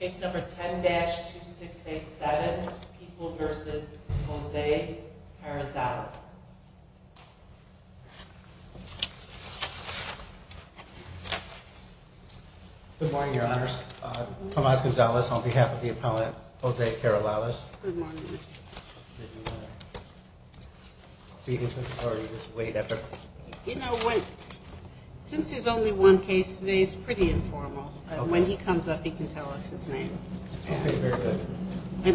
It's number 10 dash 2 6 8 7 people versus Jose Carrizales. Good morning, your honors. Tomas Gonzalez on behalf of the appellant Jose Carrizales. Begins with authority, this weight effort. You know what? Since there's only one case today, it's pretty informal. When he comes up, he can tell us his name. And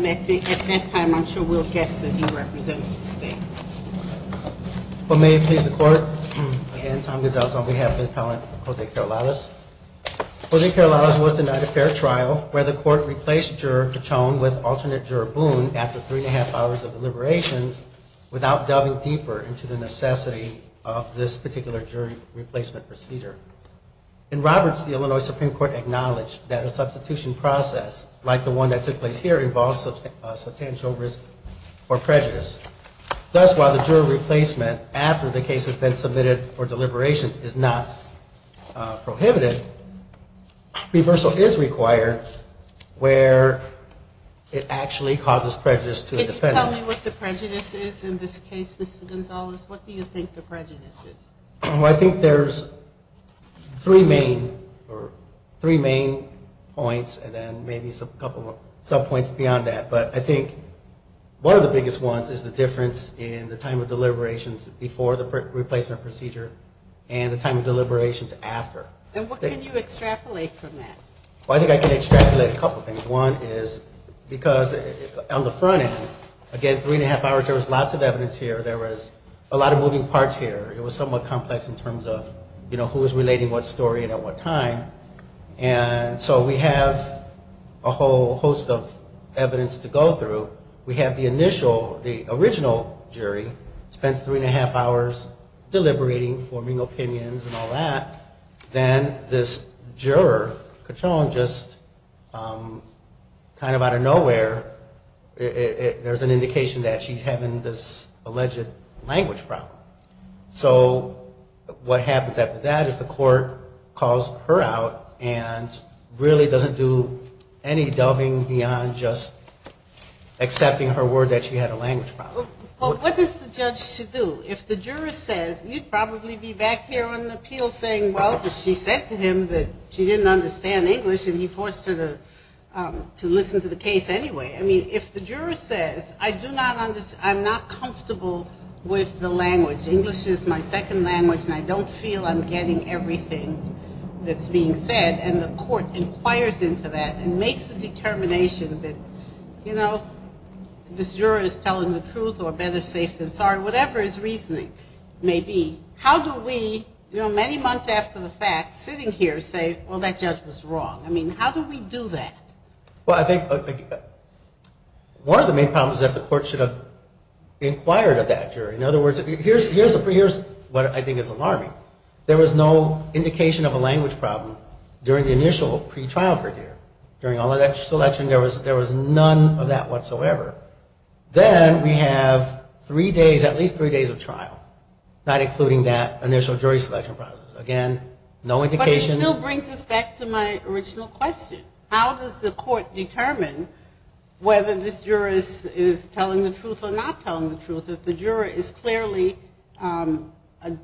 at that time, I'm sure we'll guess that he represents the state. Well, may it please the court and Tom Gonzalez on behalf of the appellant Jose Carrizales. Jose Carrizales was denied a fair trial where the court replaced juror Cachon with alternate juror Boone after three and a half hours of deliberations without delving deeper into the necessity of this particular jury replacement procedure. In Roberts, the Illinois Supreme Court acknowledged that a substitution process like the one that took place here involves a substantial risk or prejudice. Thus, while the juror replacement after the case has been submitted for deliberations is not prohibited, reversal is required where it actually causes prejudice to the defendant. Can you tell me what the prejudice is in this case, Mr. Gonzalez? What do you think the prejudice is? I think there's three main points and then maybe a couple of sub points beyond that. But I think one of the biggest ones is the difference in the time of deliberations before the replacement procedure and the time of deliberations after. And what can you extrapolate from that? Well, I think I can extrapolate a couple of things. One is because on the front end, again, three and a half hours, there was lots of evidence here. There was a lot of moving parts here. It was somewhat complex in terms of who was relating what story and at what time. And so we have a whole host of evidence to go through. We have the initial, the original jury, spends three and a half hours deliberating, forming opinions and all that. Then this juror, Cachon, just kind of out of nowhere, there's an indication that she's having this alleged language problem. So what happens after that is the court calls her out and really doesn't do any delving beyond just accepting her word that she had a language problem. Well, what does the judge do? If the juror says, you'd probably be back here on the appeal saying, well, she said to him that she didn't understand English and he forced her to listen to the case anyway. I mean, if the juror says, I do not understand, I'm not comfortable with the language, English is my second language and I don't feel I'm getting everything that's being said, and the court inquires into that and makes a determination that, you know, this juror is telling the truth or better safe than sorry, whatever his reasoning may be, how do we, you know, many months after the fact, sitting here say, well, that judge was One of the main problems is that the court should have inquired of that jury. In other words, here's what I think is alarming. There was no indication of a language problem during the initial pre-trial period. During all of that selection, there was none of that whatsoever. Then we have three days, at least three days of trial, not including that initial jury selection process. Again, no indication. But it still brings us back to my original question. How does the court determine whether this juror is telling the truth or not telling the truth if the juror is clearly a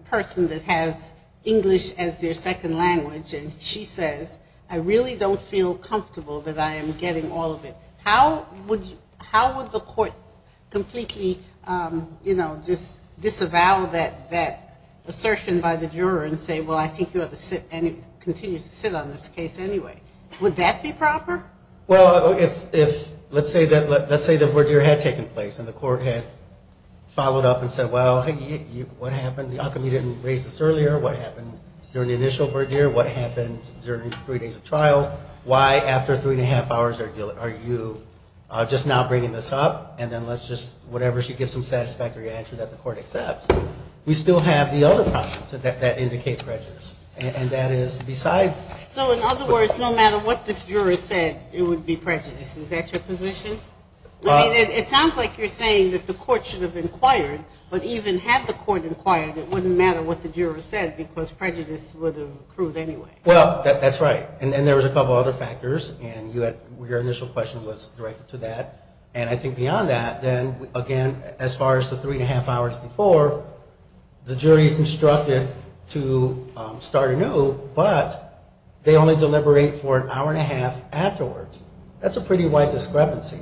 person that has English as their second language and she says, I really don't feel comfortable that I am getting all of it. How would the court completely, you know, just disavow that assertion by the juror and say, well, I think you have to continue to sit on this case anyway. Would that be proper? Well, if let's say the verdeer had taken place and the court had followed up and said, well, what happened? How come you didn't raise this earlier? What happened during the initial verdeer? What happened during three days of trial? Why after three and a half hours are you just now bringing this up? And then let's just, whatever she gives some satisfactory answer that the court accepts. We still have the other options that indicate prejudice. And that is besides... So in other words, no matter what this juror said, it would be prejudice. Is that your position? I mean, it sounds like you're saying that the court should have inquired, but even had the court inquired, it wouldn't matter what the juror said because prejudice would have accrued anyway. Well, that's right. And there was a couple other factors. And your initial question was directed to that. And I think beyond that, then again, as far as the three and a half hours before, the jury is instructed to start anew, but they only deliberate for an hour and a half afterwards. That's a pretty wide discrepancy.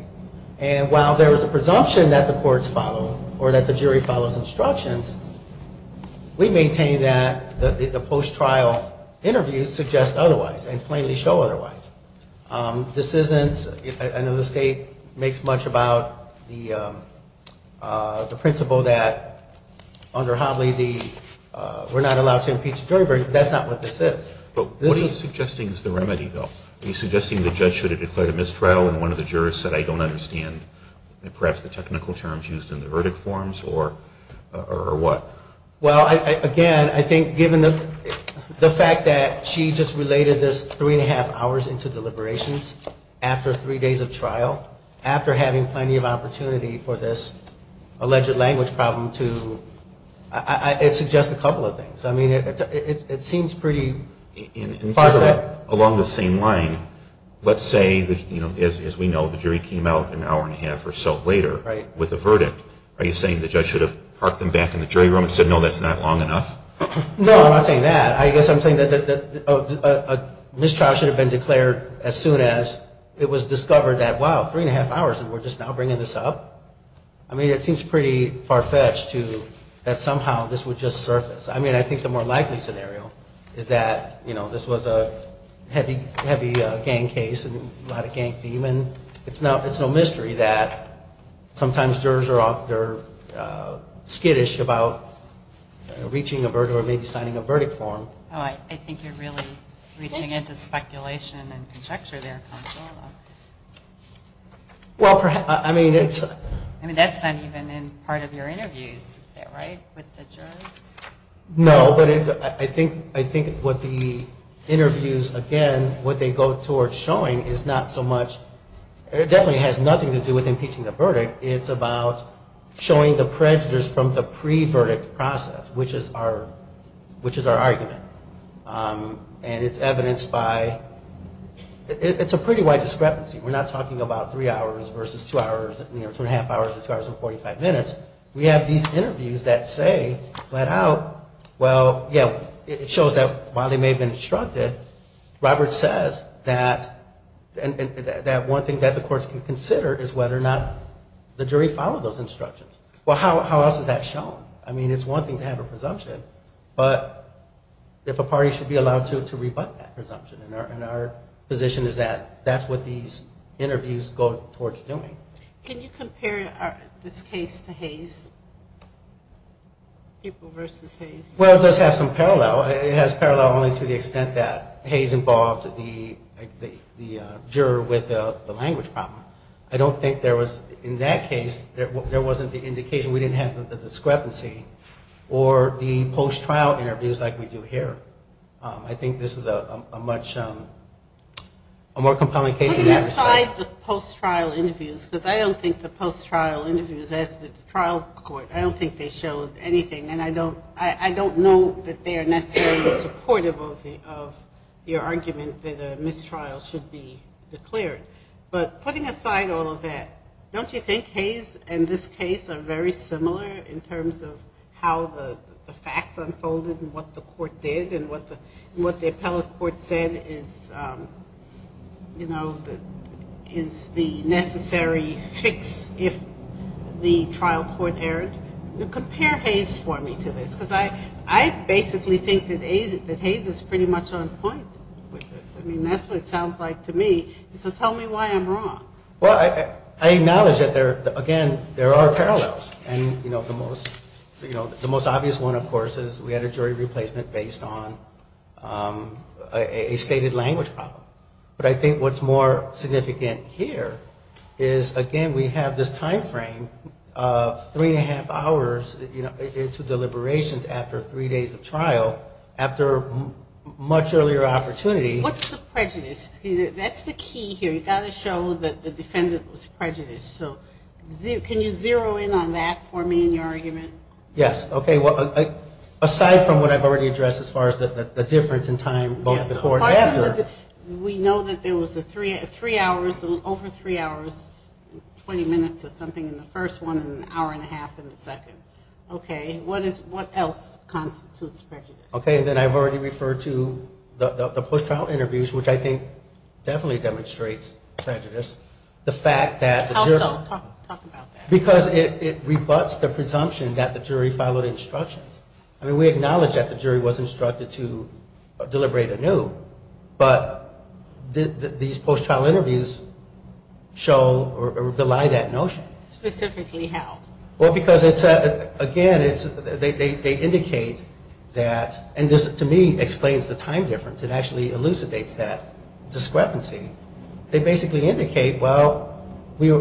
And while there was a presumption that the courts follow or that the jury follows instructions, we maintain that the post-trial interviews suggest otherwise and plainly show otherwise. This isn't, I know the state makes much about the principle that under Hobley we're not allowed to impeach the jury, but that's not what this is. But what he's suggesting is the remedy, though. He's suggesting the judge should have declared a mistrial and one of the jurors said I don't understand perhaps the technical terms used in the verdict forms or what? Well, again, I think given the fact that she just related this three days of trial, after having plenty of opportunity for this alleged language problem to, it suggests a couple of things. I mean, it seems pretty farfetched. Along the same line, let's say, as we know, the jury came out an hour and a half or so later with a verdict. Are you saying the judge should have parked them back in the jury room and said no, that's not long enough? No, I'm not saying that. I guess I'm saying that a mistrial should have been declared as soon as it was discovered that wow, three and a half hours and we're just now bringing this up. I mean, it seems pretty farfetched that somehow this would just surface. I mean, I think the more likely scenario is that this was a heavy gang case and a lot of gang theme and it's no mystery that sometimes jurors are skittish about reaching a verdict or maybe signing a verdict form. I think you're really reaching into speculation and conjecture there, counsel. Well, I mean, it's... I mean, that's not even in part of your interviews, is that right, with the jurors? No, but I think what the interviews, again, what they go towards showing is not so much, it definitely has nothing to do with impeaching the verdict. It's about showing the prejudice from the jury. And it's evidenced by, it's a pretty wide discrepancy. We're not talking about three hours versus two hours, you know, two and a half hours versus two hours and 45 minutes. We have these interviews that say flat out, well, yeah, it shows that while they may have been instructed, Robert says that one thing that the courts can consider is whether or not the jury followed those instructions. Well, how else is that shown? I mean, it's one thing to have a party should be allowed to rebut that presumption. And our position is that that's what these interviews go towards doing. Can you compare this case to Hayes? People versus Hayes. Well, it does have some parallel. It has parallel only to the extent that Hayes involved the juror with the language problem. I don't think there was, in that case, there wasn't the indication. We didn't have the discrepancy. Or the post-trial interviews like we do here. I think this is a much, a more compelling case in that respect. Putting aside the post-trial interviews, because I don't think the post-trial interviews as the trial court, I don't think they showed anything. And I don't know that they are necessarily supportive of your argument that a mistrial should be declared. But putting aside all of that, don't you think Hayes and this and what the court did and what the appellate court said is, you know, is the necessary fix if the trial court erred? Compare Hayes for me to this. Because I basically think that Hayes is pretty much on point with this. I mean, that's what it sounds like to me. So tell me why I'm wrong. Well, I acknowledge that there, again, there are parallels. And, you know, the most obvious one, of course, is we had a jury replacement based on a stated language problem. But I think what's more significant here is, again, we have this time frame of three and a half hours to deliberations after three days of trial, after much earlier opportunity. What's the prejudice? That's the key here. You've got to show that the defendant was prejudiced. So can you zero in on that for me in your argument? Yes. Okay. Well, aside from what I've already addressed as far as the difference in time, both before and after. We know that there was a three hours, over three hours, 20 minutes or something in the first one and an hour and a half in the second. Okay. What else constitutes prejudice? Okay. Then I've already referred to the post-trial interviews, which I think definitely demonstrates prejudice. The fact that the jury... How so? Talk about that. Because it rebuts the presumption that the jury followed instructions. I mean, we acknowledge that the jury was instructed to deliberate anew. But these post-trial interviews show or belie that notion. Specifically how? Well, because it's, again, it's, they indicate that, and this to me explains the time difference. It actually elucidates that discrepancy. They basically indicate, well, we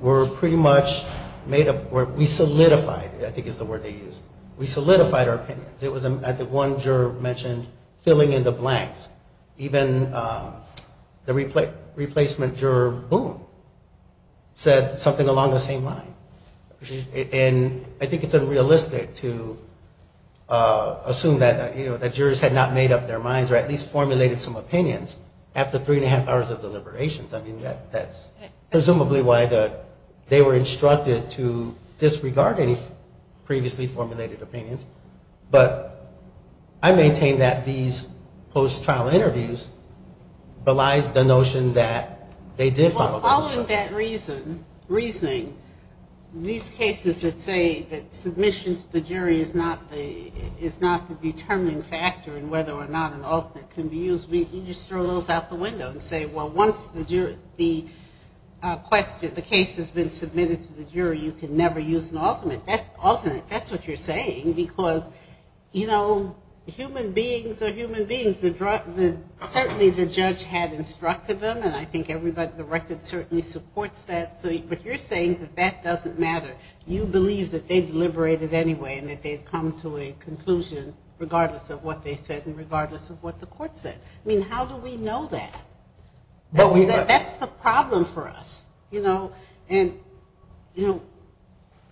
were pretty much made up, we solidified, I think is the word they used, we solidified our opinions. It was at the one juror mentioned filling in the blanks. Even the replacement juror, Boone, said something along the same line. And I think it's unrealistic to assume that, you know, that jurors had not made up their minds or at least formulated some opinions after three and a half deliberations. I mean, that's presumably why they were instructed to disregard any previously formulated opinions. But I maintain that these post-trial interviews belies the notion that they did follow instructions. Well, following that reasoning, these cases that say that submission to the jury is not the determining factor in whether or not an alternate can be used, you just throw those out the window and say, well, once the case has been submitted to the jury, you can never use an alternate. That's what you're saying, because, you know, human beings are human beings. Certainly the judge had instructed them, and I think everybody in the record certainly supports that. But you're saying that that doesn't matter. You believe that they deliberated anyway and that they'd come to a conclusion regardless of what they said and regardless of what the court said. I mean, how do we know that? That's the problem for us. You know,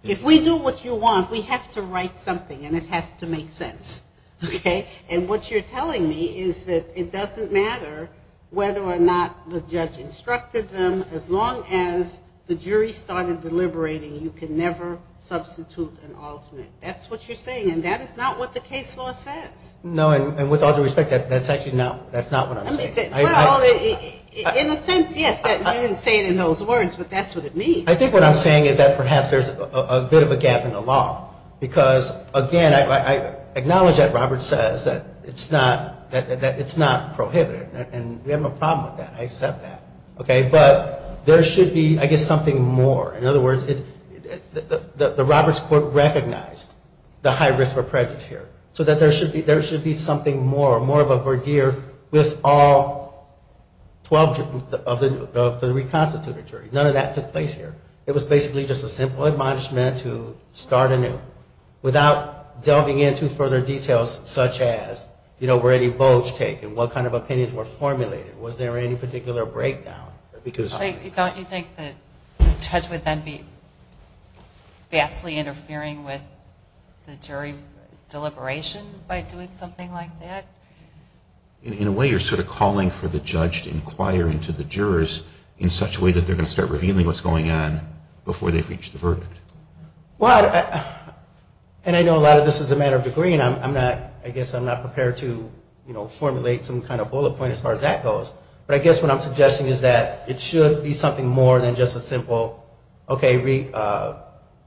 if we do what you want, we have to write something and it has to make sense. Okay? And what you're telling me is that it doesn't matter whether or not the judge instructed them, as long as the jury started deliberating, you can never substitute an alternate. That's what you're saying, and that is not what the case law says. No, and with all due respect, that's actually not what I'm saying. In a sense, yes, you didn't say it in those words, but that's what it means. I think what I'm saying is that perhaps there's a bit of a gap in the law, because, again, I acknowledge that Robert says that it's not prohibited, and we have no problem with that. I accept that. Okay? But there should be, I guess, something more. In other words, the Roberts court recognized the high risk for prejudice here, so that there should be something more, more of a verdier with all 12 of the reconstituted jury. None of that took place here. It was basically just a simple admonishment to start anew without delving into further details, such as, you know, were any votes taken? What kind of opinions were formulated? Was there any particular breakdown? Don't you think that the judge would then be vastly interfering with the jury deliberation by doing something like that? In a way, you're sort of calling for the judge to inquire into the jurors in such a way that they're going to start revealing what's going on before they've reached the verdict. Well, and I know a lot of this is a matter of degree, and I'm not, I guess I'm not prepared to, you know, formulate some kind of bullet point as far as that goes, but I guess what I'm suggesting is that it should be something more than just a simple, okay,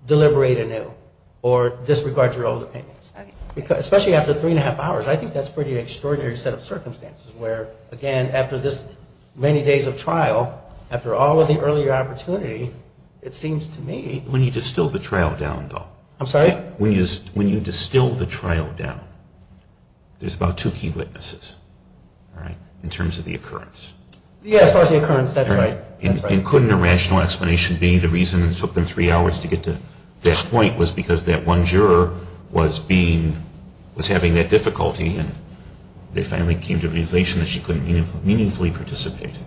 deliberate anew, or disregard your old opinions. Because, especially after three and a half hours, I think that's pretty extraordinary set of circumstances where, again, after this many days of trial, after all of the earlier opportunity, it seems to me... When you distill the trial down, though... I'm sorry? When you distill the trial down, there's about two key witnesses, all right, in terms of the occurrence. Yeah, as far as the occurrence, that's right. And couldn't a rational explanation be the reason it took them three hours to get to that point was because that one juror was being, was having that difficulty, and they finally came to the realization that she couldn't meaningfully participate?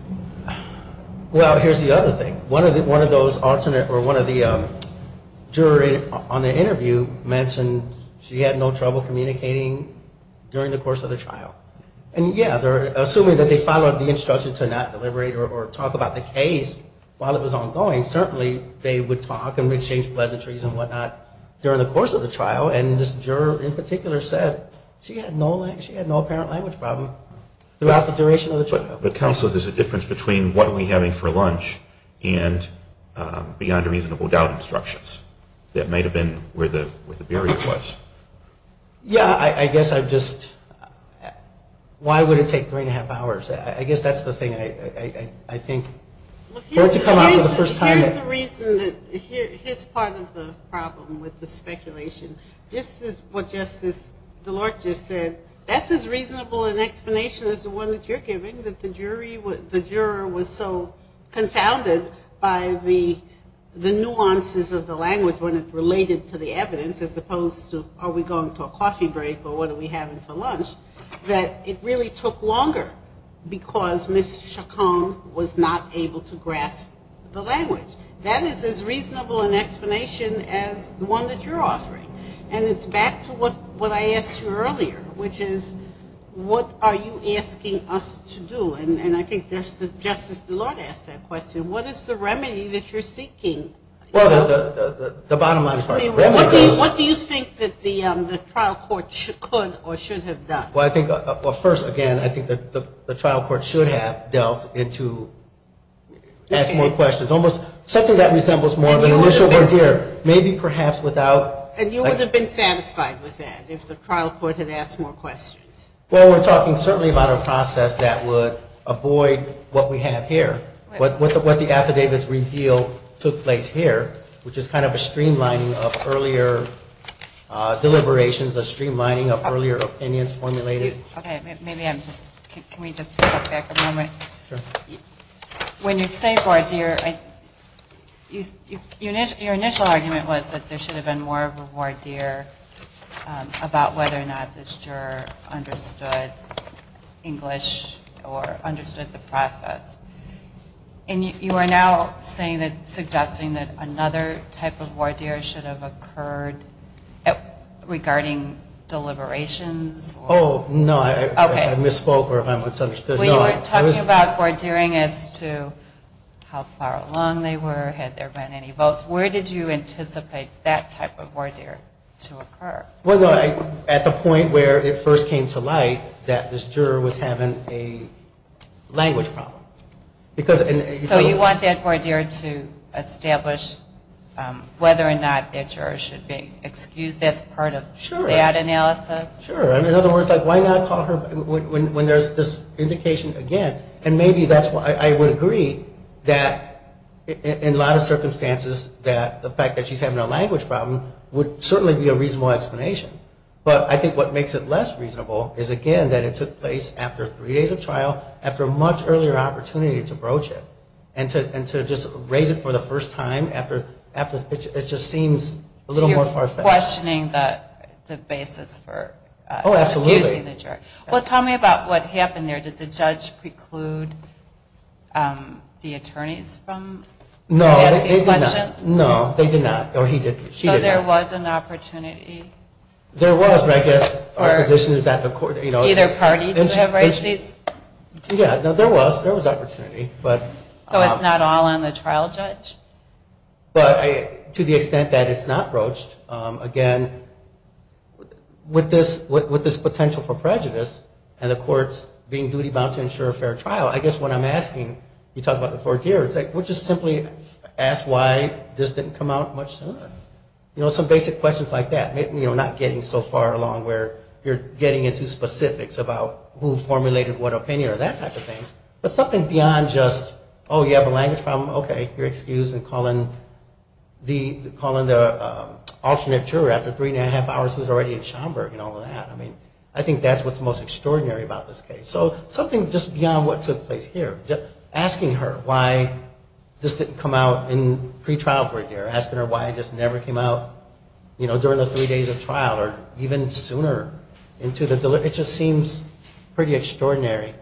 Well, here's the other thing. One of those alternate, or one of the jury on the interview mentioned she had no trouble communicating during the course of the trial. And, yeah, assuming that they followed the instruction to not deliberate or talk about the case while it was ongoing, certainly they would talk and exchange pleasantries and whatnot during the course of the trial. And this juror in particular said she had no apparent language problem throughout the duration of the trial. But counsel, there's a difference between what are we having for lunch and beyond a reasonable doubt instructions. That might have been where the barrier was. Yeah, I guess I've just... Why would it take three and a half hours? I guess that's the thing I think for it to come out for the first time. Here's the reason, here's part of the problem with the speculation. Just as what Justice Delort just said, that's as reasonable an explanation as the one that you're giving, that the jury, the juror was so confounded by the nuances of the language when it related to the evidence, as opposed to are we going to a coffee break or what are we having for lunch, that it really took longer because Ms. Chacon was not able to grasp the language. That is as reasonable an explanation as the one that you're offering. And it's back to what I asked you earlier, which is what are you asking us to do? And I think Justice Delort asked that question. What is the remedy that you're seeking? Well, the bottom line is... What do you think that the trial court could or should have done? Well, first, again, I think that the trial court should have delved into asking more questions, almost something that resembles more of an initial frontier, maybe perhaps without... And you would have been satisfied with that if the trial court had asked more questions? Well, we're talking certainly about a process that would avoid what we have here, what the affidavits reveal took place here, which is kind of a streamlining of earlier deliberations, a streamlining. Okay. Maybe I'm just... Can we just step back a moment? When you say voir dire, your initial argument was that there should have been more of a voir dire about whether or not this juror understood English or understood the process. And you are now saying that, suggesting that another type of voir dire should have occurred regarding deliberations? Oh, no. I misspoke, or if I'm misunderstood, no. You were talking about voir dire as to how far along they were, had there been any votes. Where did you anticipate that type of voir dire to occur? Well, at the point where it first came to light that this juror was having a language problem. So you want that voir dire to establish whether or not that juror should be excused as part of that analysis? Sure. In other words, why not call her when there's this indication again? And maybe that's why I would agree that in a lot of circumstances that the fact that she's having a language problem would certainly be a reasonable explanation. But I think what makes it less reasonable is, again, that it took place after three days of trial, after a much earlier opportunity to broach it, and to just raise it for the first time after it just seems a little more far-fetched. You're questioning the basis for excusing the juror. Well, tell me about what happened there. Did the judge preclude the attorneys from asking questions? No, they did not. So there was an opportunity? There was, but I guess our position is that the court, you know... Either party to have raised these? Yeah, no, there was. There was opportunity. So it's not all on the trial judge? But to the extent that it's not broached, again, with this potential for prejudice and the courts being duty-bound to ensure a fair trial, I guess what I'm asking, you talk about the four tiers, which is simply ask why this didn't come out much sooner? You know, some basic questions like that, you know, not getting so far along where you're getting into specifics about who formulated what opinion or that type of thing, but something beyond just, oh, you have a language problem, okay, you're excused and calling the alternate juror after three and a half hours who's already in Schomburg and all of that. I mean, I think that's what's most extraordinary about this case. So something just beyond what took place here, just asking her why this didn't come out in pre-trial for a year, asking her why it just never came out, you know, during the three days of trial or even sooner into the delivery, it just seems pretty extraordinary.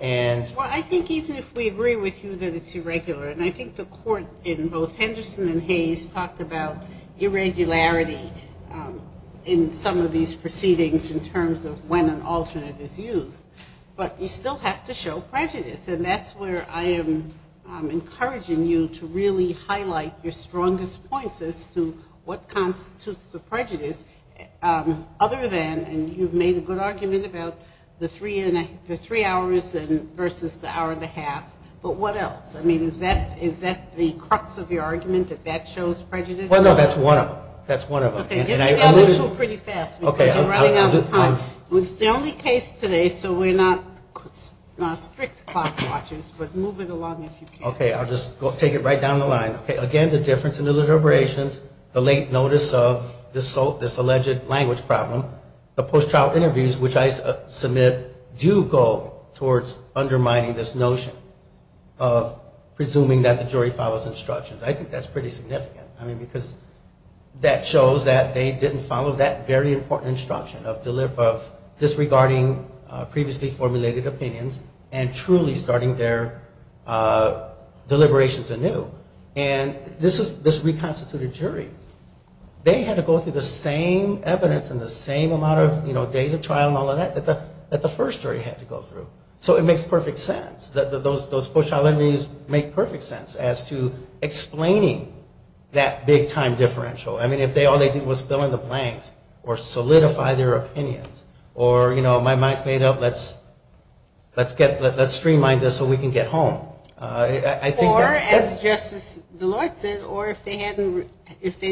And... Well, I think even if we agree with you that it's irregular, and I think the court in both Henderson and Hayes talked about irregularity in some of these proceedings in terms of when an alternate is used, but you still have to show prejudice. And that's where I am encouraging you to really highlight your strongest points as to what constitutes the prejudice other than, and you've made a good argument about the three hours versus the hour and a half, but what else? I mean, is that the crux of your argument, that that shows prejudice? Well, no, that's one of them. That's one of them. Okay, get together two pretty fast because you're running out of time. It's the only case today, so we're not strict clock watchers, but move it along if you can. Okay, I'll just take it right down the line. Okay, again, the difference in the deliberations, the late notice of this alleged language problem, the post-trial interviews which I submit do go towards undermining this notion of presuming that the jury follows instructions. I think that's pretty significant. I mean, because that shows that they didn't follow that very important instruction of disregarding previously formulated opinions and truly starting their deliberations anew. And this reconstituted jury, they had to go through the same evidence and the same amount of days of trial and all of that that the first jury had to go through. So it makes perfect sense. Those post-trial interviews make perfect sense as to explaining that big-time differential. I mean, if all they did was fill in the blanks or solidify their opinions or, you know, my mind's made up, let's streamline this so we can get home. Or, as Justice Deloitte said, or if they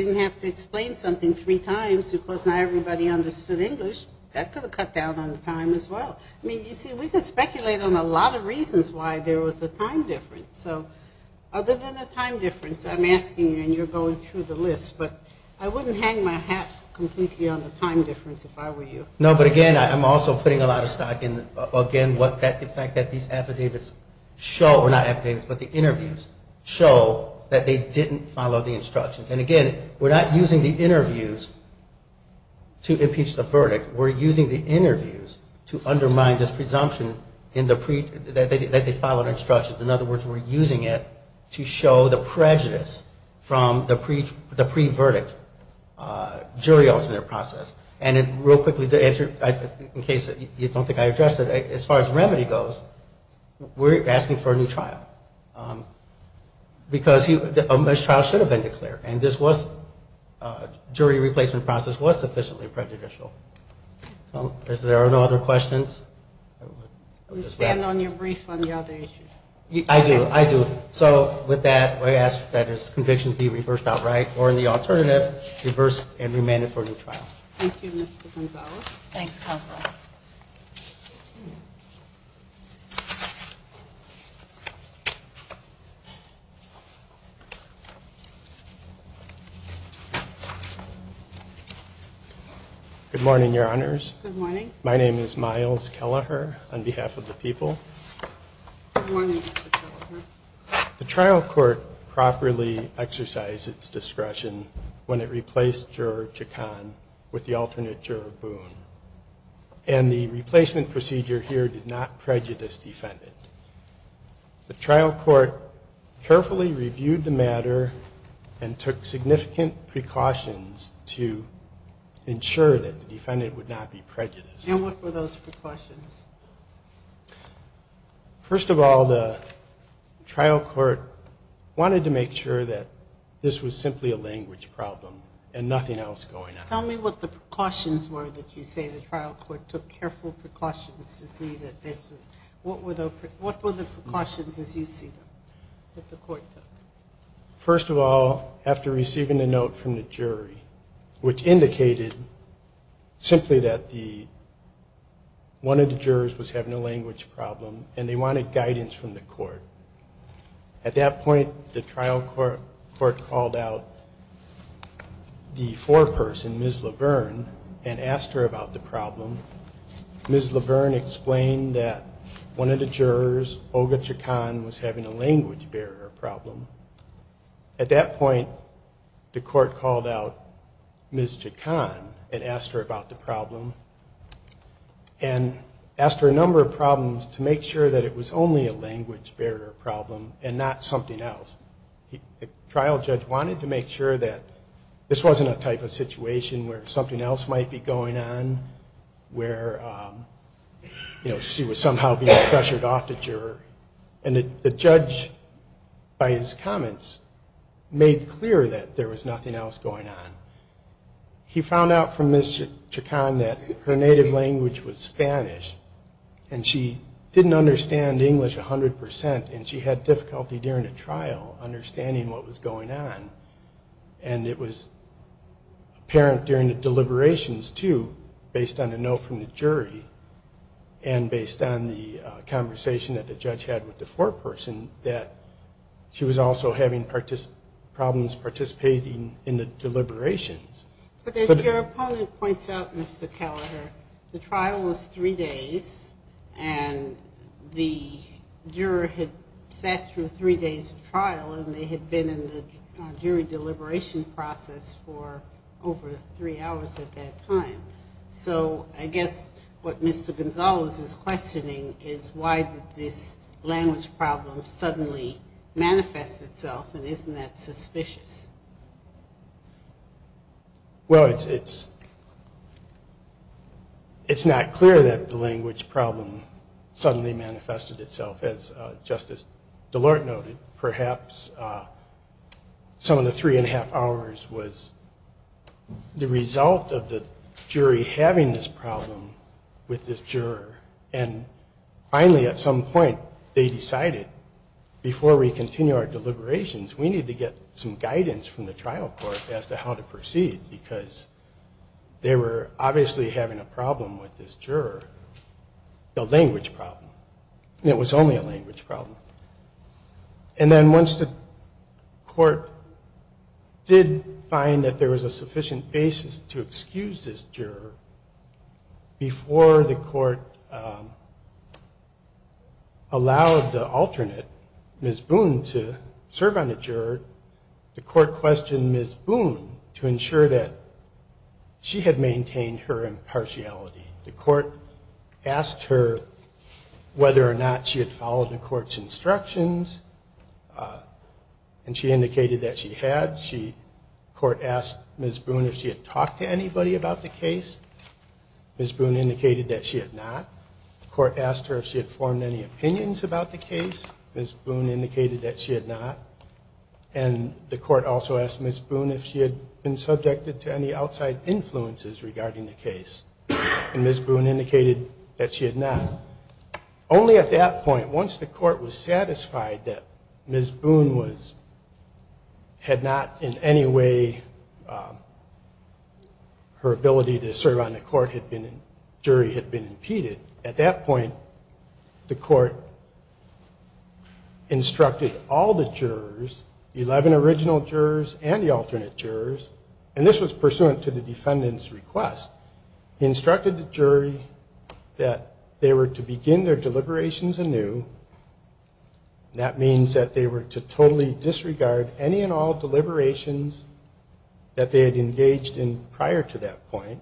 didn't have to explain something three times because not everybody understood English, that could have cut down on the time as well. I mean, you see, we can find reasons why there was a time difference. So other than the time difference, I'm asking you, and you're going through the list, but I wouldn't hang my hat completely on the time difference if I were you. No, but again, I'm also putting a lot of stock in, again, the fact that these affidavits show, or not affidavits, but the interviews show that they didn't follow the instructions. And again, we're not using the interviews to impeach the verdict. We're using the interviews to undermine this presumption in the that they followed instructions. In other words, we're using it to show the prejudice from the pre-verdict jury alternate process. And real quickly, in case you don't think I addressed it, as far as remedy goes, we're asking for a new trial. Because this trial should have been declared, and this jury replacement process was sufficiently prejudicial. There are no other questions? You stand on your brief on the other issue. I do, I do. So with that, I ask that this conviction be reversed outright, or in the alternative, reversed and remanded for a new trial. Thank you, Mr. Gonzalez. Thanks, Counsel. Good morning, Your Honors. Good morning. My name is Miles Kelleher, on behalf of the people. Good morning, Mr. Kelleher. The trial court properly exercised its discretion when it replaced Juror Chacon with the alternate Juror Boone. And the replacement procedure here did not prejudice the defendant. The trial court carefully reviewed the matter and took significant precautions to ensure that the defendant would not be prejudiced. And what were those precautions? First of all, the trial court wanted to make sure that this was simply a language problem and nothing else going on. Tell me what the precautions were that you say the trial court took careful precautions to see that this was, what were the, what were the precautions as you see them, that the court took? First of all, after receiving a note from the the, one of the jurors was having a language problem and they wanted guidance from the court. At that point, the trial court called out the foreperson, Ms. Laverne, and asked her about the problem. Ms. Laverne explained that one of the jurors, Olga Chacon, was having a language barrier problem. At that point, the court called out Ms. Chacon and asked her about the problem and asked her a number of problems to make sure that it was only a language barrier problem and not something else. The trial judge wanted to make sure that this wasn't a type of situation where something else might be going on, where, you know, she was somehow being pressured off the juror. And the judge, by his comments, made clear that there was nothing else going on. He found out from Ms. Chacon that her native language was Spanish and she didn't understand English a hundred percent and she had difficulty during the trial understanding what was going on. And it was apparent during the deliberations, too, based on a note from the jury and based on the conversation that the judge had with the foreperson, that she was also having problems participating in the deliberations. But as your opponent points out, Mr. Kelleher, the trial was three days and the juror had sat through three days of trial and they had been in the jury deliberation process for over three hours at that time. So I guess what Mr. Gonzalez is questioning is why did this language problem suddenly manifest itself and isn't that suspicious? Well, it's not clear that the language problem suddenly manifested itself, as Justice DeLorte noted. Perhaps some of the three and a half hours was the result of the jury having this problem with this juror. And finally, at some point, they decided, before we continue our deliberations, we need to get some guidance from the trial court as to how to proceed, because they were obviously having a problem with this juror, the language problem. It was only a language problem. And then once the court did find that there was a sufficient basis to excuse this juror, before the court allowed the alternate, Ms. Boone, to serve on the juror, the court questioned Ms. Boone to ensure that she had maintained her impartiality. The court asked her whether or not she had followed the court's instructions and she indicated that she had. The court asked Ms. Boone if she had talked to anybody about the case. Ms. Boone indicated that she had not. The court asked her if she had formed any opinions about the case. Ms. Boone indicated that she had not. And the court also asked Ms. Boone if she had been subjected to any outside influences regarding the case. And Ms. Boone indicated that she had not. Only at that point, once the court was satisfied that Ms. Boone was, had not in any way, her ability to serve on the court had been, jury had been impeded. At that point, the court instructed all the jurors, 11 original jurors and the alternate jurors, and this was pursuant to the defendant's request, instructed the jury that they were to begin their deliberations anew. That means that they were to totally disregard any and all deliberations that they had engaged in prior to that point,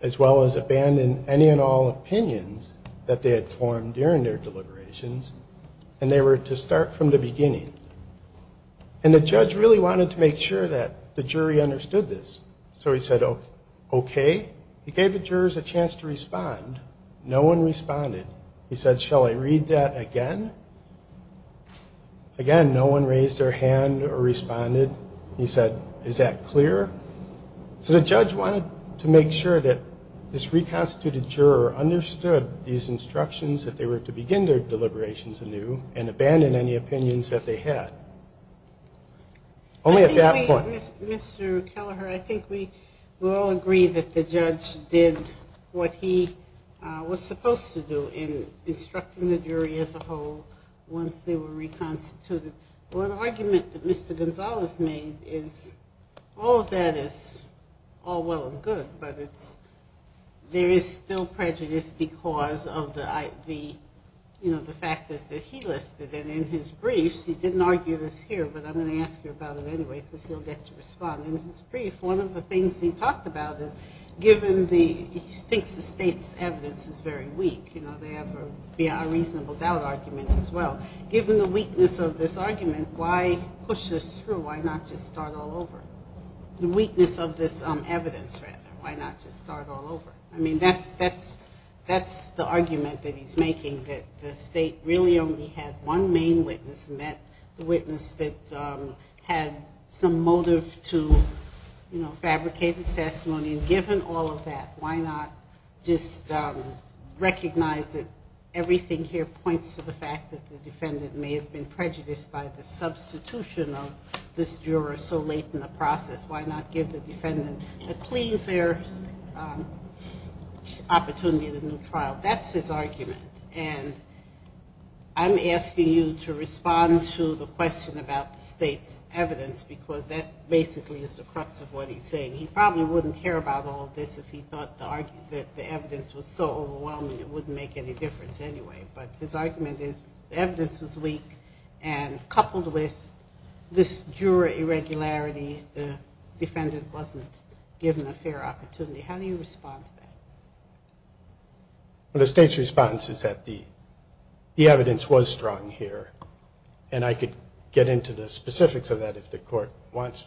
as well as abandon any and all opinions that they had formed during their deliberations, and they were to start from the beginning. And the judge really wanted to make sure that the jury understood this. So he said, okay. He gave the jurors a chance to respond. No one responded. He said, shall I read that again? Again, no one raised their hand or responded. He said the judge wanted to make sure that this reconstituted juror understood these instructions, that they were to begin their deliberations anew, and abandon any opinions that they had. Only at that point. I think we, Mr. Kelleher, I think we will all agree that the judge did what he was supposed to do in instructing the jury as a whole once they were reconstituted. One argument that Mr. Gonzalez made is all of that is all well and good, but it's, there is still prejudice because of the, you know, the factors that he listed. And in his briefs, he didn't argue this here, but I'm going to ask you about it anyway, because he'll get to respond. In his brief, one of the things he talked about is, given the, he thinks the state's evidence is very weak, you know, they have a reasonable doubt argument as well. Given the weakness of this argument, why push this through? Why not just start all over? The weakness of this evidence, rather. Why not just start all over? I mean, that's, that's, that's the argument that he's making, that the state really only had one main witness, and that witness that had some motive to, you know, fabricate his testimony. And given all of that, why not just recognize that everything here points to the fact that the defendant may have been the substitution of this juror so late in the process? Why not give the defendant a clean, fair opportunity in a new trial? That's his argument. And I'm asking you to respond to the question about the state's evidence, because that basically is the crux of what he's saying. He probably wouldn't care about all of this if he thought the argument, the evidence was so overwhelming it wouldn't make any difference anyway. But his argument is evidence was weak, and coupled with this juror irregularity, the defendant wasn't given a fair opportunity. How do you respond to that? Well, the state's response is that the, the evidence was strong here, and I could get into the specifics of that if the Court wants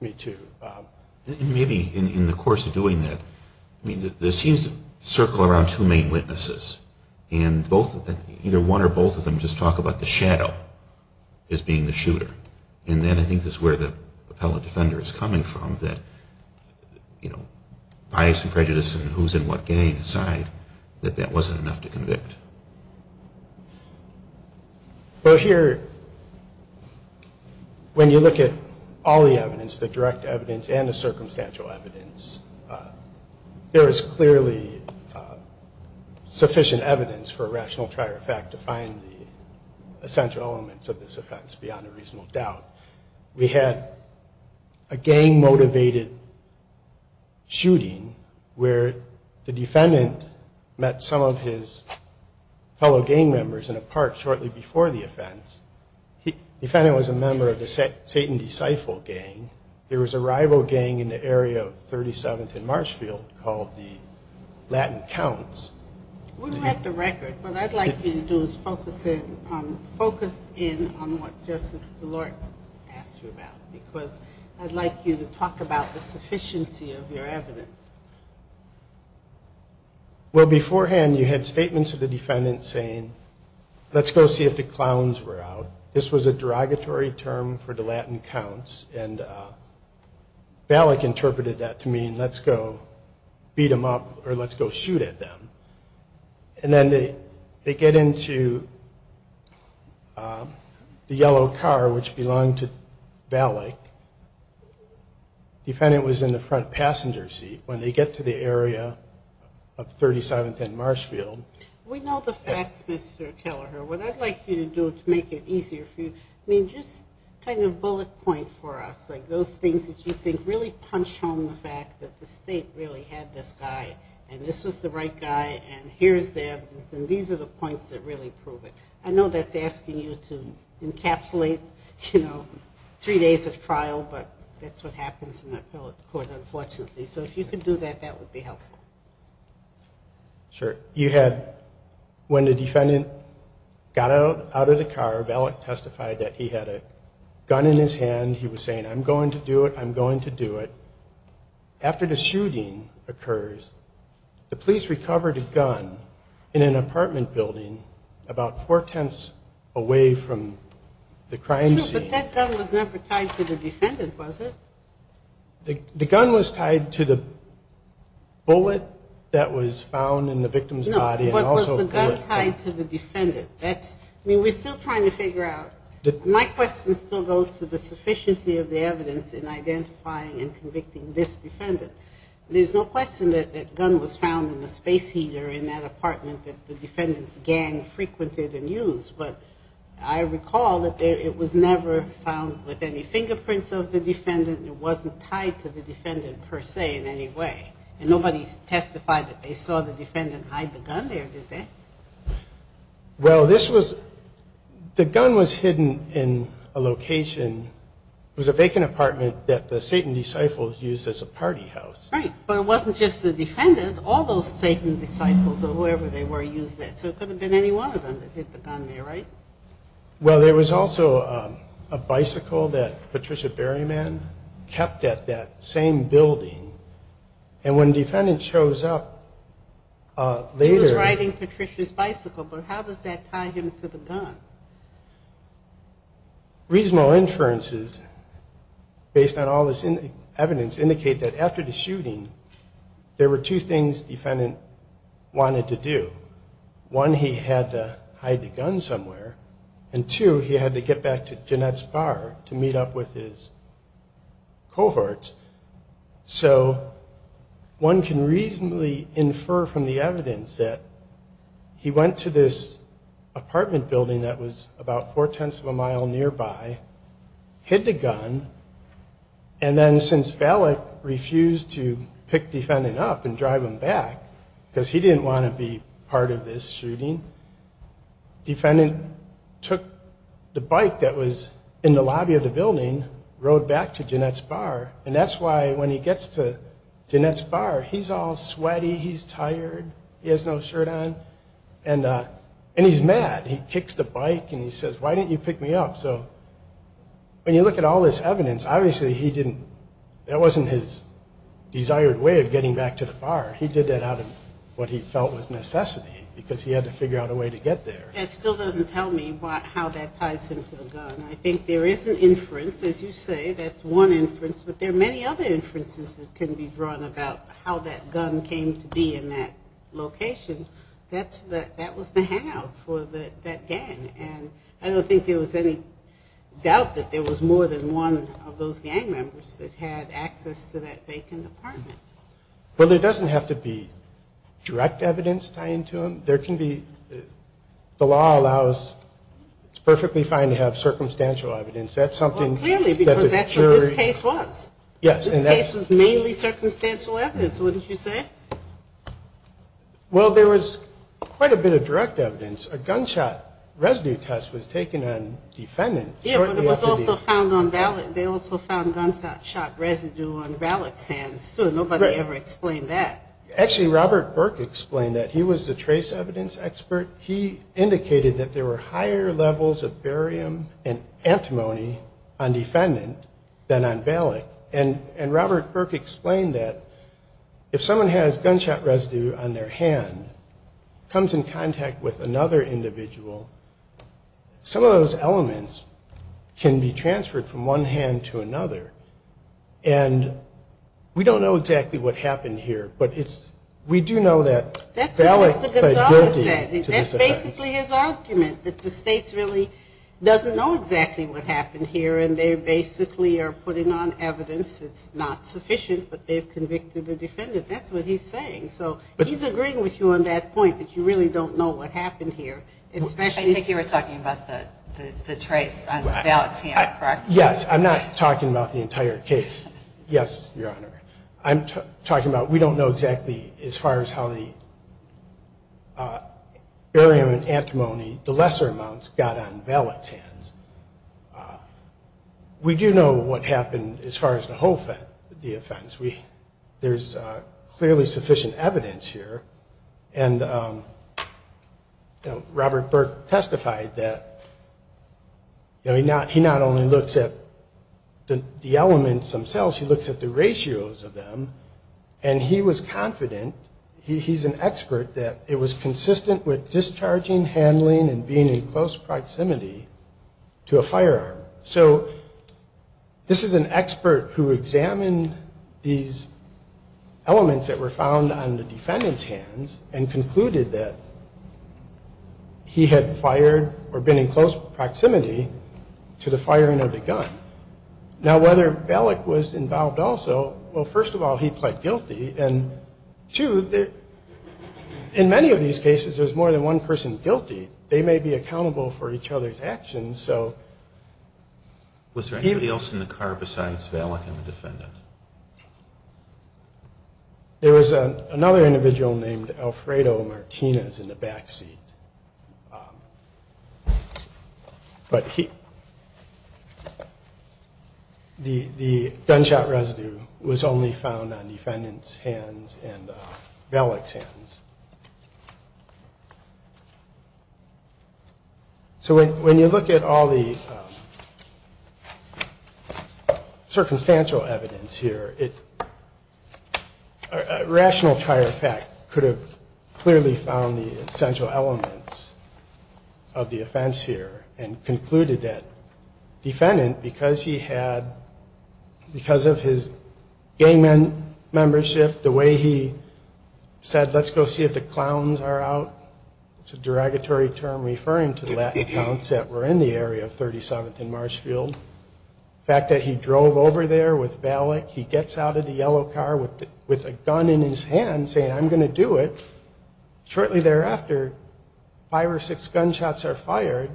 me to. Maybe in the course of doing that, I mean, there seems to circle around two main witnesses, and both, either one or both of them just talk about the shadow as being the shooter. And then I think that's where the appellate defender is coming from, that, you know, bias and prejudice and who's in what game decide that that wasn't enough to convict. Well, here, when you look at all the evidence, the direct evidence and the circumstantial evidence, there is clearly sufficient evidence for a rational trial matter of fact to find the essential elements of this offense beyond a reasonable doubt. We had a gang-motivated shooting where the defendant met some of his fellow gang members in a park shortly before the offense. He, the defendant was a member of the Satan Deciphal Gang. There was a rival gang in the area of 37th and Marshfield called the Latin Counts. We don't have the record. What I'd like you to do is focus in on what Justice DeLorte asked you about, because I'd like you to talk about the sufficiency of your evidence. Well, beforehand, you had statements of the defendant saying, let's go see if the clowns were out. This was a derogatory term for the Latin Counts, and Ballack interpreted that to mean, let's go beat them up or let's go shoot at them. And then they get into the yellow car, which belonged to Ballack. The defendant was in the front passenger seat. When they get to the area of 37th and Marshfield... We know the facts, Mr. Kelleher. What I'd like you to do to make it easier for you, I mean, just kind of bullet point for us, like those things that you think really punch home the fact that the state really had this guy, and this was the right guy, and here's the evidence, and these are the points that really prove it. I know that's asking you to encapsulate, you know, three days of trial, but that's what happens in the appellate court, unfortunately. So if you could do that, that would be helpful. Sure. You had... When the defendant got out of the car, Ballack testified that he had a gun in his hand. He was saying, I'm going to do it. I'm going to do it. After the shooting occurs, the police recovered a gun in an apartment building about four-tenths away from the crime scene. But that gun was never tied to the defendant, was it? The gun was tied to the bullet that was found in the victim's body and also... No, but was the gun tied to the defendant? That's... I mean, we're still trying to figure out. My question still goes to the sufficiency of the evidence in identifying and convicting this defendant. There's no question that the gun was found in the space heater in that apartment that the defendant's gang frequented and used. But I recall that it was never found with any fingerprints of the defendant. It wasn't tied to the defendant, per se, in any way. And nobody testified that they saw the defendant hide the gun there, did they? Well, this was... The gun was hidden in a location. It was a vacant apartment that the Satan disciples used as a party house. Right, but it wasn't just the defendant. All those Satan disciples or whoever they were used that. So it couldn't have been any one of them that hid the gun there, right? Well, there was also a bicycle that Patricia Berryman kept at that same building. And when the defendant shows up later... He was riding Patricia's bicycle, but how does that tie him to the gun? Reasonable inferences, based on all this evidence, indicate that after the shooting, there were two things the defendant wanted to do. One, he had to hide the gun somewhere. And two, he had to get back to Jeanette's bar to meet up with his cohorts. So one can reasonably infer from the evidence that he went to this apartment building that was about four-tenths of a mile nearby, hid the gun, and then since Valak refused to pick defendant up and drive him back because he didn't want to be part of this shooting, defendant took the bike that was in the lobby of the building, rode back to Jeanette's bar. And that's why when he gets to Jeanette's bar, he's all sweaty, he's tired, he has no shirt on, and he's mad. He kicks the bike and he says, why didn't you pick me up? So when you look at all this evidence, obviously he didn't... that wasn't his desired way of getting back to the bar. He did that out of what he felt was necessity, because he had to figure out a way to get there. That still doesn't tell me how that ties him to the gun. I think there is an inference, as you say, that's one inference, but there are many other inferences that can be drawn about how that gun came to be in that location. That's the... that was the hangout for that gang. And I don't think there was any doubt that there was more than one of those gang members that had access to that vacant apartment. Well, there doesn't have to be direct evidence tying to him. There can be... the law allows... it's perfectly fine to have circumstantial evidence. That's something... Well, clearly, because that's what this case was. Yes. This case was mainly circumstantial evidence, wouldn't you say? Well, there was quite a bit of direct evidence. A gunshot residue test was taken on defendant shortly after the... Yeah, but it was also found on Valak. They also found gunshot shot residue on Valak's hands, too. Nobody ever explained that. Actually, Robert Burke explained that. He was the trace evidence expert. He indicated that there were higher levels of barium and antimony on defendant than on Valak. And... and Robert Burke explained that if someone has gunshot residue on their hand, comes in contact with another individual, some of those elements can be transferred from one hand to another. And we don't know exactly what happened here, but it's... we do know that Valak... That's what Mr. Gonzales said. That's basically his argument, that the states really doesn't know exactly what happened here, and they basically are putting on evidence that's not sufficient, but they've convicted the saying. So, he's agreeing with you on that point, that you really don't know what happened here, especially... I think you were talking about the... the trace on Valak's hand, correct? Yes, I'm not talking about the entire case. Yes, Your Honor. I'm talking about... we don't know exactly, as far as how the barium and antimony, the lesser amounts, got on Valak's hands. We do know what happened as far as the whole offense. We... there's clearly sufficient evidence here, and Robert Burke testified that, you know, he not... he not only looks at the elements themselves, he looks at the ratios of them, and he was confident, he's an expert, that it was consistent with discharging, handling, and being in close proximity to a firearm. So, this is an expert who examined these elements that were found on the defendant's hands, and concluded that he had fired, or been in close proximity, to the firing of the gun. Now, whether Valak was involved also, well, first of all, he pled guilty, and two, there... in many of these cases, there's more than one person guilty. They may be accountable for each other's actions, so... Was there anybody else in the car besides Valak and the defendant? There was another individual named Alfredo Martinez in the backseat, but he... the gunshot residue was only found on defendant's hands and Valak's hands. So, when you look at all the circumstantial evidence here, it... a rational tire effect could have clearly found the essential elements of the offense here, and concluded that defendant, because he had... because of his gang membership, the way he said, let's go see if the clowns are out, it's a derogatory term referring to the Latin clowns that were in the area of 37th and Marshfield. The fact that he drove over there with Valak, he gets out of the yellow car with... with a gun in his hand saying, I'm going to do it. Shortly thereafter, five or six gunshots are fired.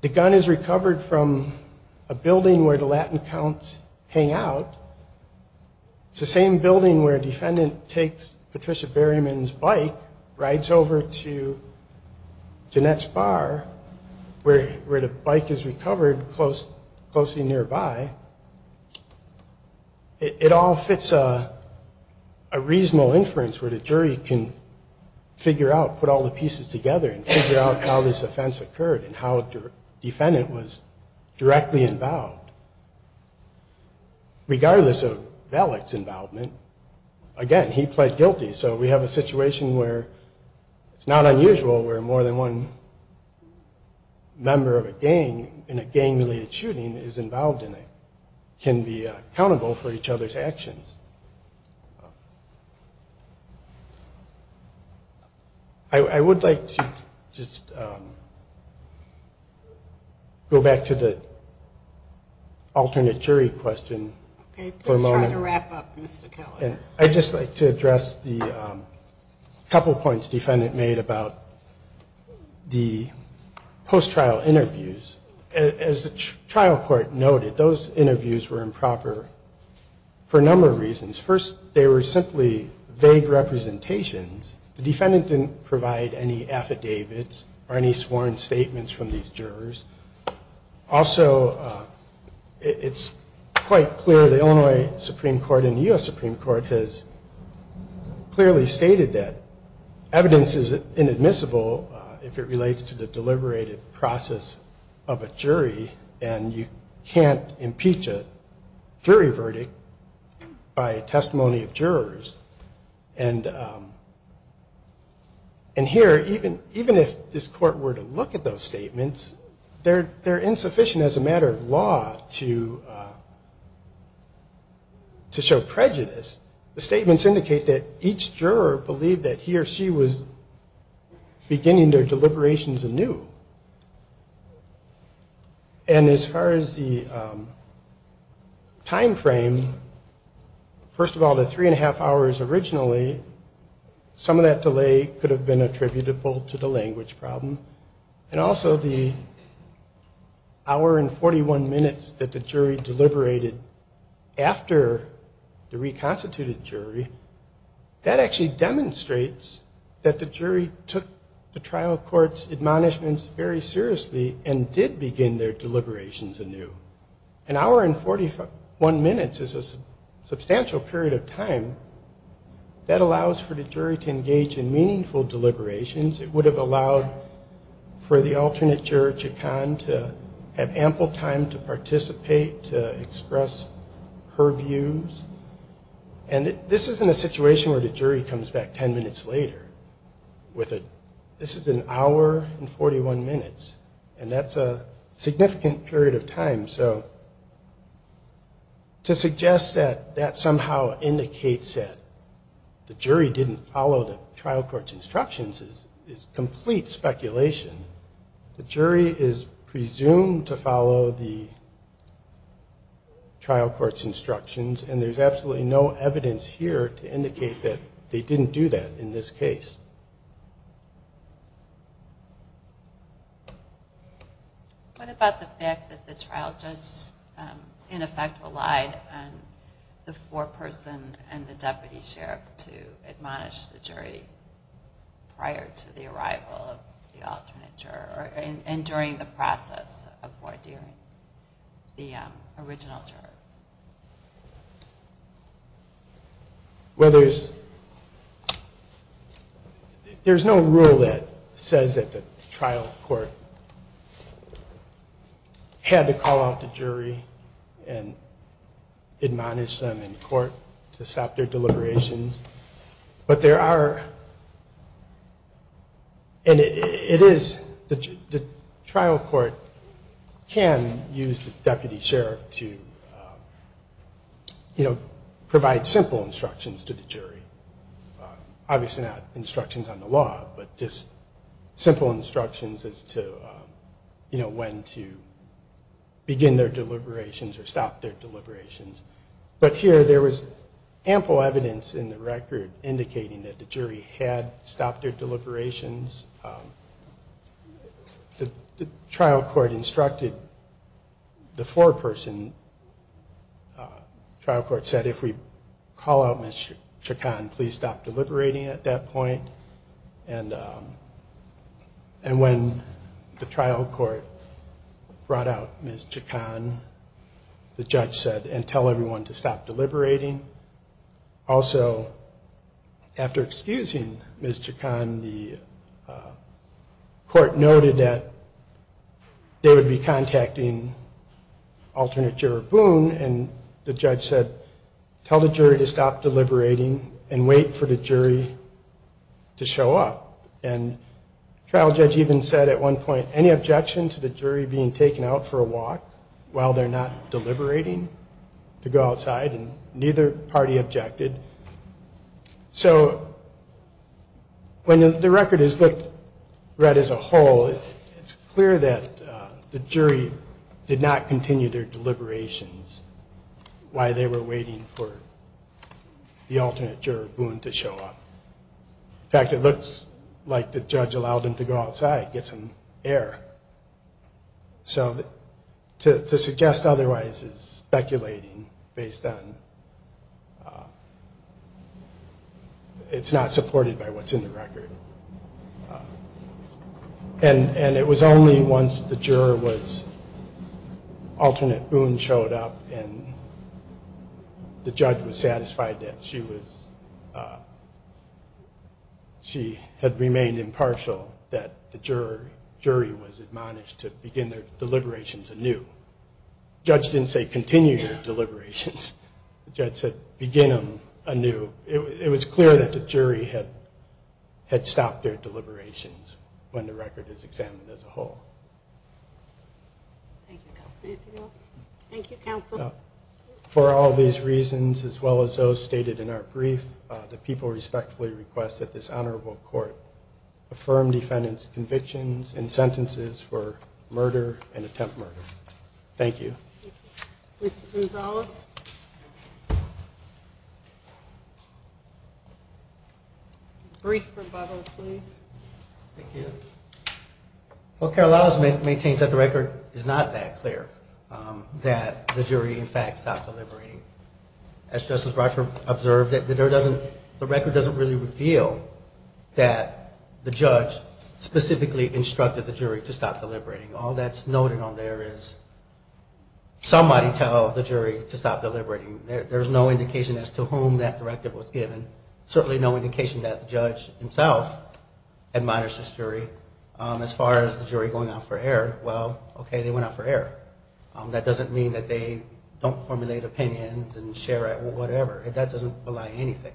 The gun is recovered from a building where the Latin clowns hang out. It's the same building where defendant takes Patricia Berryman's bike, rides over to Jeanette's bar, where... where the bike is recovered close... closely nearby. It all fits a... a reasonable inference where the jury can figure out, put all the pieces together, and figure out how this offense occurred, and how the defendant was directly involved. Regardless of Valak's involvement, again, he pled guilty. So, we have a situation where it's not unusual where more than one member of a gang in a gang-related shooting is involved in it, can be accountable for each other's actions. I would like to just go back to the alternate jury question for a moment. Okay, please try to wrap up, Mr. Keller. I'd just like to address the couple points defendant made about the post-trial interviews. As the trial court noted, those interviews were improper for a number of reasons. First, they were simply vague representations. The defendant didn't provide any affidavits or any sworn statements from these jurors. Also, it's quite clear the Illinois Supreme Court has clearly stated that evidence is inadmissible if it relates to the deliberative process of a jury, and you can't impeach a jury verdict by testimony of jurors. And here, even if this court were to look at those statements, they're insufficient as a matter of law to show prejudice. The statements indicate that each juror believed that he or she was beginning their deliberations anew. And as far as the time frame, first of all, the three and a half hours originally, some of that delay could have been attributable to the language problem, and also the hour and 41 minutes that the jury deliberated after the reconstituted jury, that actually demonstrates that the jury took the trial court's admonishments very seriously and did begin their deliberations anew. An hour and 41 minutes is a substantial period of time that allows for the jury to engage in meaningful deliberations. It would have allowed for the alternate juror, Chaconne, to have ample time to And this isn't a situation where the jury comes back 10 minutes later. This is an hour and 41 minutes, and that's a significant period of time. So to suggest that that somehow indicates that the jury didn't follow the trial court's instructions is complete speculation. The jury is presumed to follow the trial court's There's absolutely no evidence here to indicate that they didn't do that in this case. What about the fact that the trial judge, in effect, relied on the foreperson and the deputy sheriff to admonish the jury prior to the arrival of the alternate juror, and during the process of ordearing the Well, there's no rule that says that the trial court had to call out the jury and admonish them in court to stop their deliberations, but there are, and it is, the trial court can use the deputy sheriff to provide simple instructions to the jury. Obviously not instructions on the law, but just simple instructions as to when to begin their deliberations or stop their deliberations. But here, there was ample evidence in the record indicating that the jury had stopped their deliberations. The foreperson, the trial court said, if we call out Ms. Chacon, please stop deliberating at that point. And when the trial court brought out Ms. Chacon, the judge said, and tell everyone to stop deliberating. Also, after excusing Ms. Chacon, the court noted that they would be contacting alternate juror Boone, and the judge said, tell the jury to stop deliberating and wait for the jury to show up. And the trial judge even said at one point, any objection to the jury being taken out for a walk while they're not deliberating to go outside, and neither party objected. So when the record is looked, read as a whole, it's clear that the jury did not continue their deliberations while they were waiting for the alternate juror Boone to show up. In fact, it looks like the judge allowed them to go outside, get some air. So to suggest otherwise is speculating based on it's not supported by what's in the record. And it was only once the juror was, alternate Boone showed up and the judge was satisfied that she was, she had remained impartial that the jury was admonished to begin their deliberations anew. The judge didn't say continue your deliberations. The judge said begin them anew. It was clear that the jury had, had stopped their deliberations when the record is examined as a whole. Thank you, counsel. For all these reasons, as well as those stated in our brief, the people respectfully request that this honorable court affirm defendant's and attempt murder. Thank you. Mr. Gonzalez? Brief rebuttal, please. Thank you. Well, Carol Adams maintains that the record is not that clear, that the jury in fact stopped deliberating. As Justice Rocha observed, that there doesn't, the record doesn't really reveal that the judge specifically instructed the jury to stop deliberating. All that's noted on there is somebody tell the jury to stop deliberating. There's no indication as to whom that directive was given. Certainly no indication that the judge himself admonished this jury. As far as the jury going out for air, well, okay, they went out for air. That doesn't mean that they don't formulate opinions and share it or whatever. That doesn't rely on anything.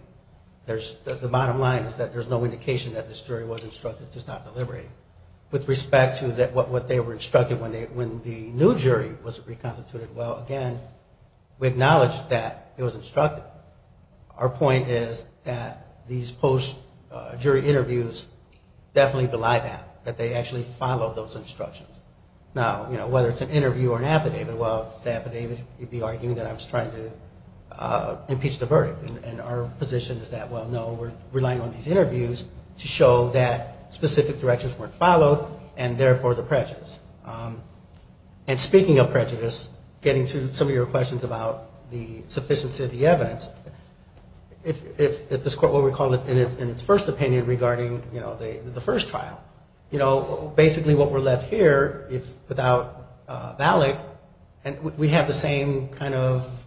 There's, the bottom line is that there's no indication that this jury was instructed to stop deliberating. With respect to what they were instructed when the new jury was acknowledged that it was instructed, our point is that these post-jury interviews definitely belie that, that they actually followed those instructions. Now, you know, whether it's an interview or an affidavit, well, the affidavit, you'd be arguing that I was trying to impeach the verdict. And our position is that, well, no, we're relying on these interviews to show that specific directions weren't followed and therefore the prejudice. And speaking of prejudice, getting to some of your questions about the sufficiency of the evidence, if this court were to call it in its first opinion regarding, you know, the first trial, you know, basically what we're left here without Valak, and we have the same kind of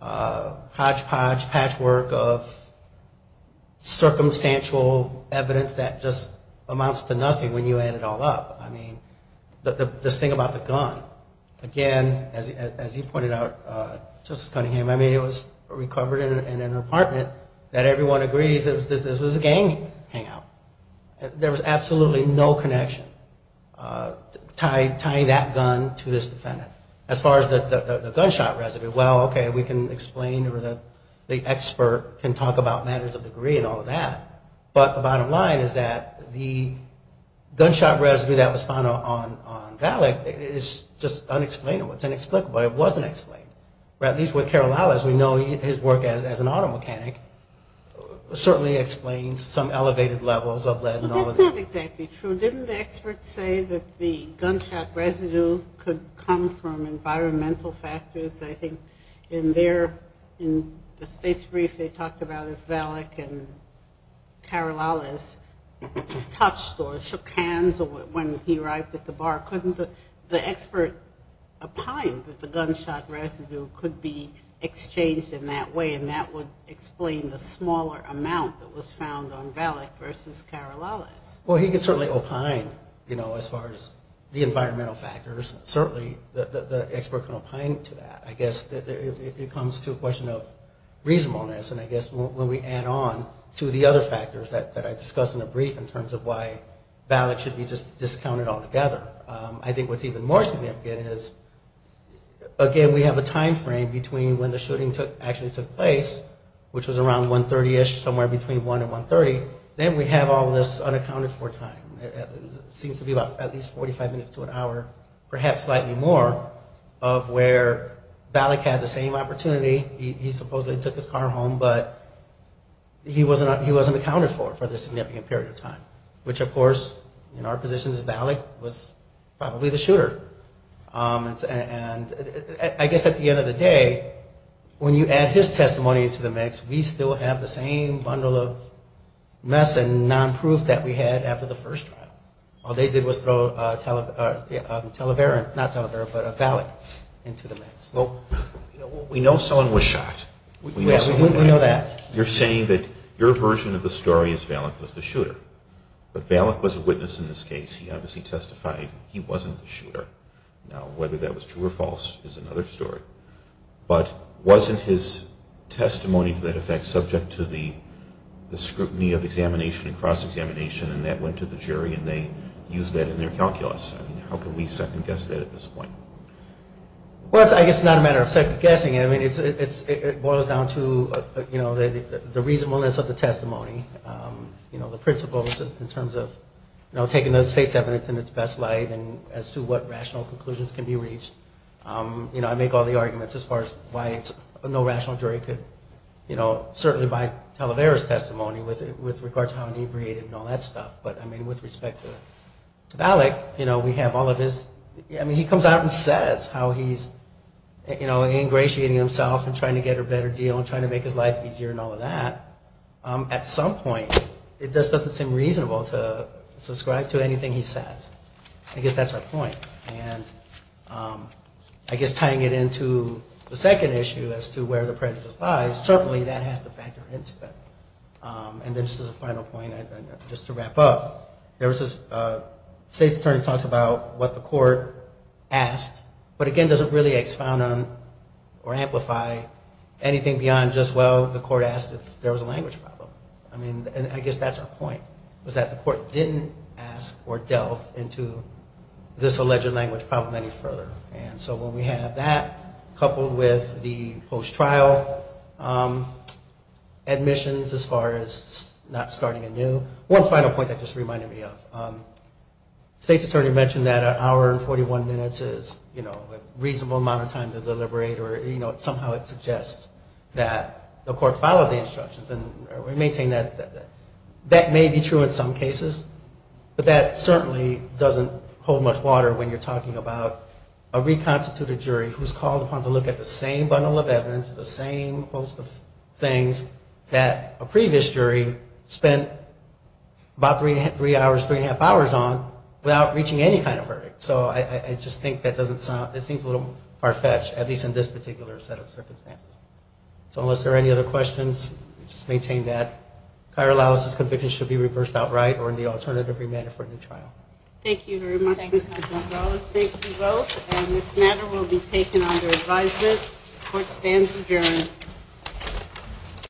hodgepodge patchwork of circumstantial evidence that just amounts to nothing when you add it all up. I mean, this thing about the gun, again, as you pointed out, Justice Cunningham, I mean, it was recovered in an apartment that everyone agrees this was a gang hangout. There was absolutely no connection tying that gun to this defendant. As far as the gunshot residue, well, okay, we can explain or the expert can talk about matters of degree and all of that, but the bottom line is that the gunshot residue that was found on Valak is just inexplicable. It wasn't explained. At least with Karolales, we know his work as an auto mechanic certainly explains some elevated levels of lead and all of that. That's not exactly true. Didn't the expert say that the gunshot residue could come from environmental factors? I think in the state's brief they talked about if Valak and Karolales touched or shook hands or when he arrived at the apartment that the gunshot residue could be exchanged in that way and that would explain the smaller amount that was found on Valak versus Karolales. Well, he can certainly opine, you know, as far as the environmental factors, certainly the expert can opine to that. I guess it comes to a question of reasonableness and I guess when we add on to the other factors that I discussed in the brief in terms of why Valak should be just discounted altogether. I think what's even more significant is, again, we have a time frame between when the shooting actually took place, which was around 1.30ish, somewhere between 1 and 1.30, then we have all this unaccounted-for time. It seems to be about at least 45 minutes to an hour, perhaps slightly more, of where Valak had the same opportunity. He supposedly took his car home, but he wasn't accounted for for this significant period of time, which of course in our position as Valak was probably the shooter. I guess at the end of the day, when you add his testimony to the mix, we still have the same bundle of mess and non-proof that we had after the first trial. All they did was throw Valak into the mix. Well, we know someone was shot. We know that. You're saying that your version of the story is Valak was the shooter, but Valak was a witness in this case. He obviously testified he wasn't the shooter. Now whether that was true or false is another story. But wasn't his testimony to that effect subject to the scrutiny of examination and cross-examination and that went to the jury and they used that in their calculus? How can we second guess that at this point? Well, I guess it's not a matter of second guessing. It boils down to the reasonableness of the testimony, the principles in terms of taking those state's evidence in its best light and as to what rational conclusions can be reached. You know, I make all the arguments as far as why it's no rational jury could, you know, certainly by Talavera's testimony with regard to how inebriated and all that stuff. But I mean, with respect to Valak, you know, we have all of his, I mean, he comes out and says how he's, you know, ingratiating himself and trying to get a better deal and trying to make his life easier and all of that. At some point, it just doesn't seem reasonable to subscribe to anything he says. I guess that's our point. And I guess tying it into the second issue as to where the prejudice lies, certainly that has to factor into it. And then just as a final point, just to wrap up, there was this, State's attorney talks about what the court asked, but again, doesn't really expound on or amplify anything beyond just, well, the court asked if there was a language problem. I mean, I guess that's our point was that the court didn't ask or delve into this alleged language problem any further. And so when we have that coupled with the post-trial admissions as far as not starting anew. One final point that just reminded me of, State's attorney mentioned that an hour and 41 minutes is, you know, a reasonable amount of time to deliberate or, you know, somehow it suggests that the court followed the instructions and we maintain that that may be true in some cases, but that certainly doesn't hold much water when you're talking about a reconstituted jury who's called upon to look at the same bundle of evidence, the same host of things that a previous jury spent about three hours, three and a half hours on without reaching any kind of verdict. So I just think that doesn't sound, it seems a little far-fetched, at least in this particular set of circumstances. So unless there are any other questions, we just maintain that. Chirology conviction should be reversed outright or in the alternative remedy for the trial. Thank you very much, Mr. Gonzales. Thank you both. And this matter will be taken under advisement. Court stands adjourned.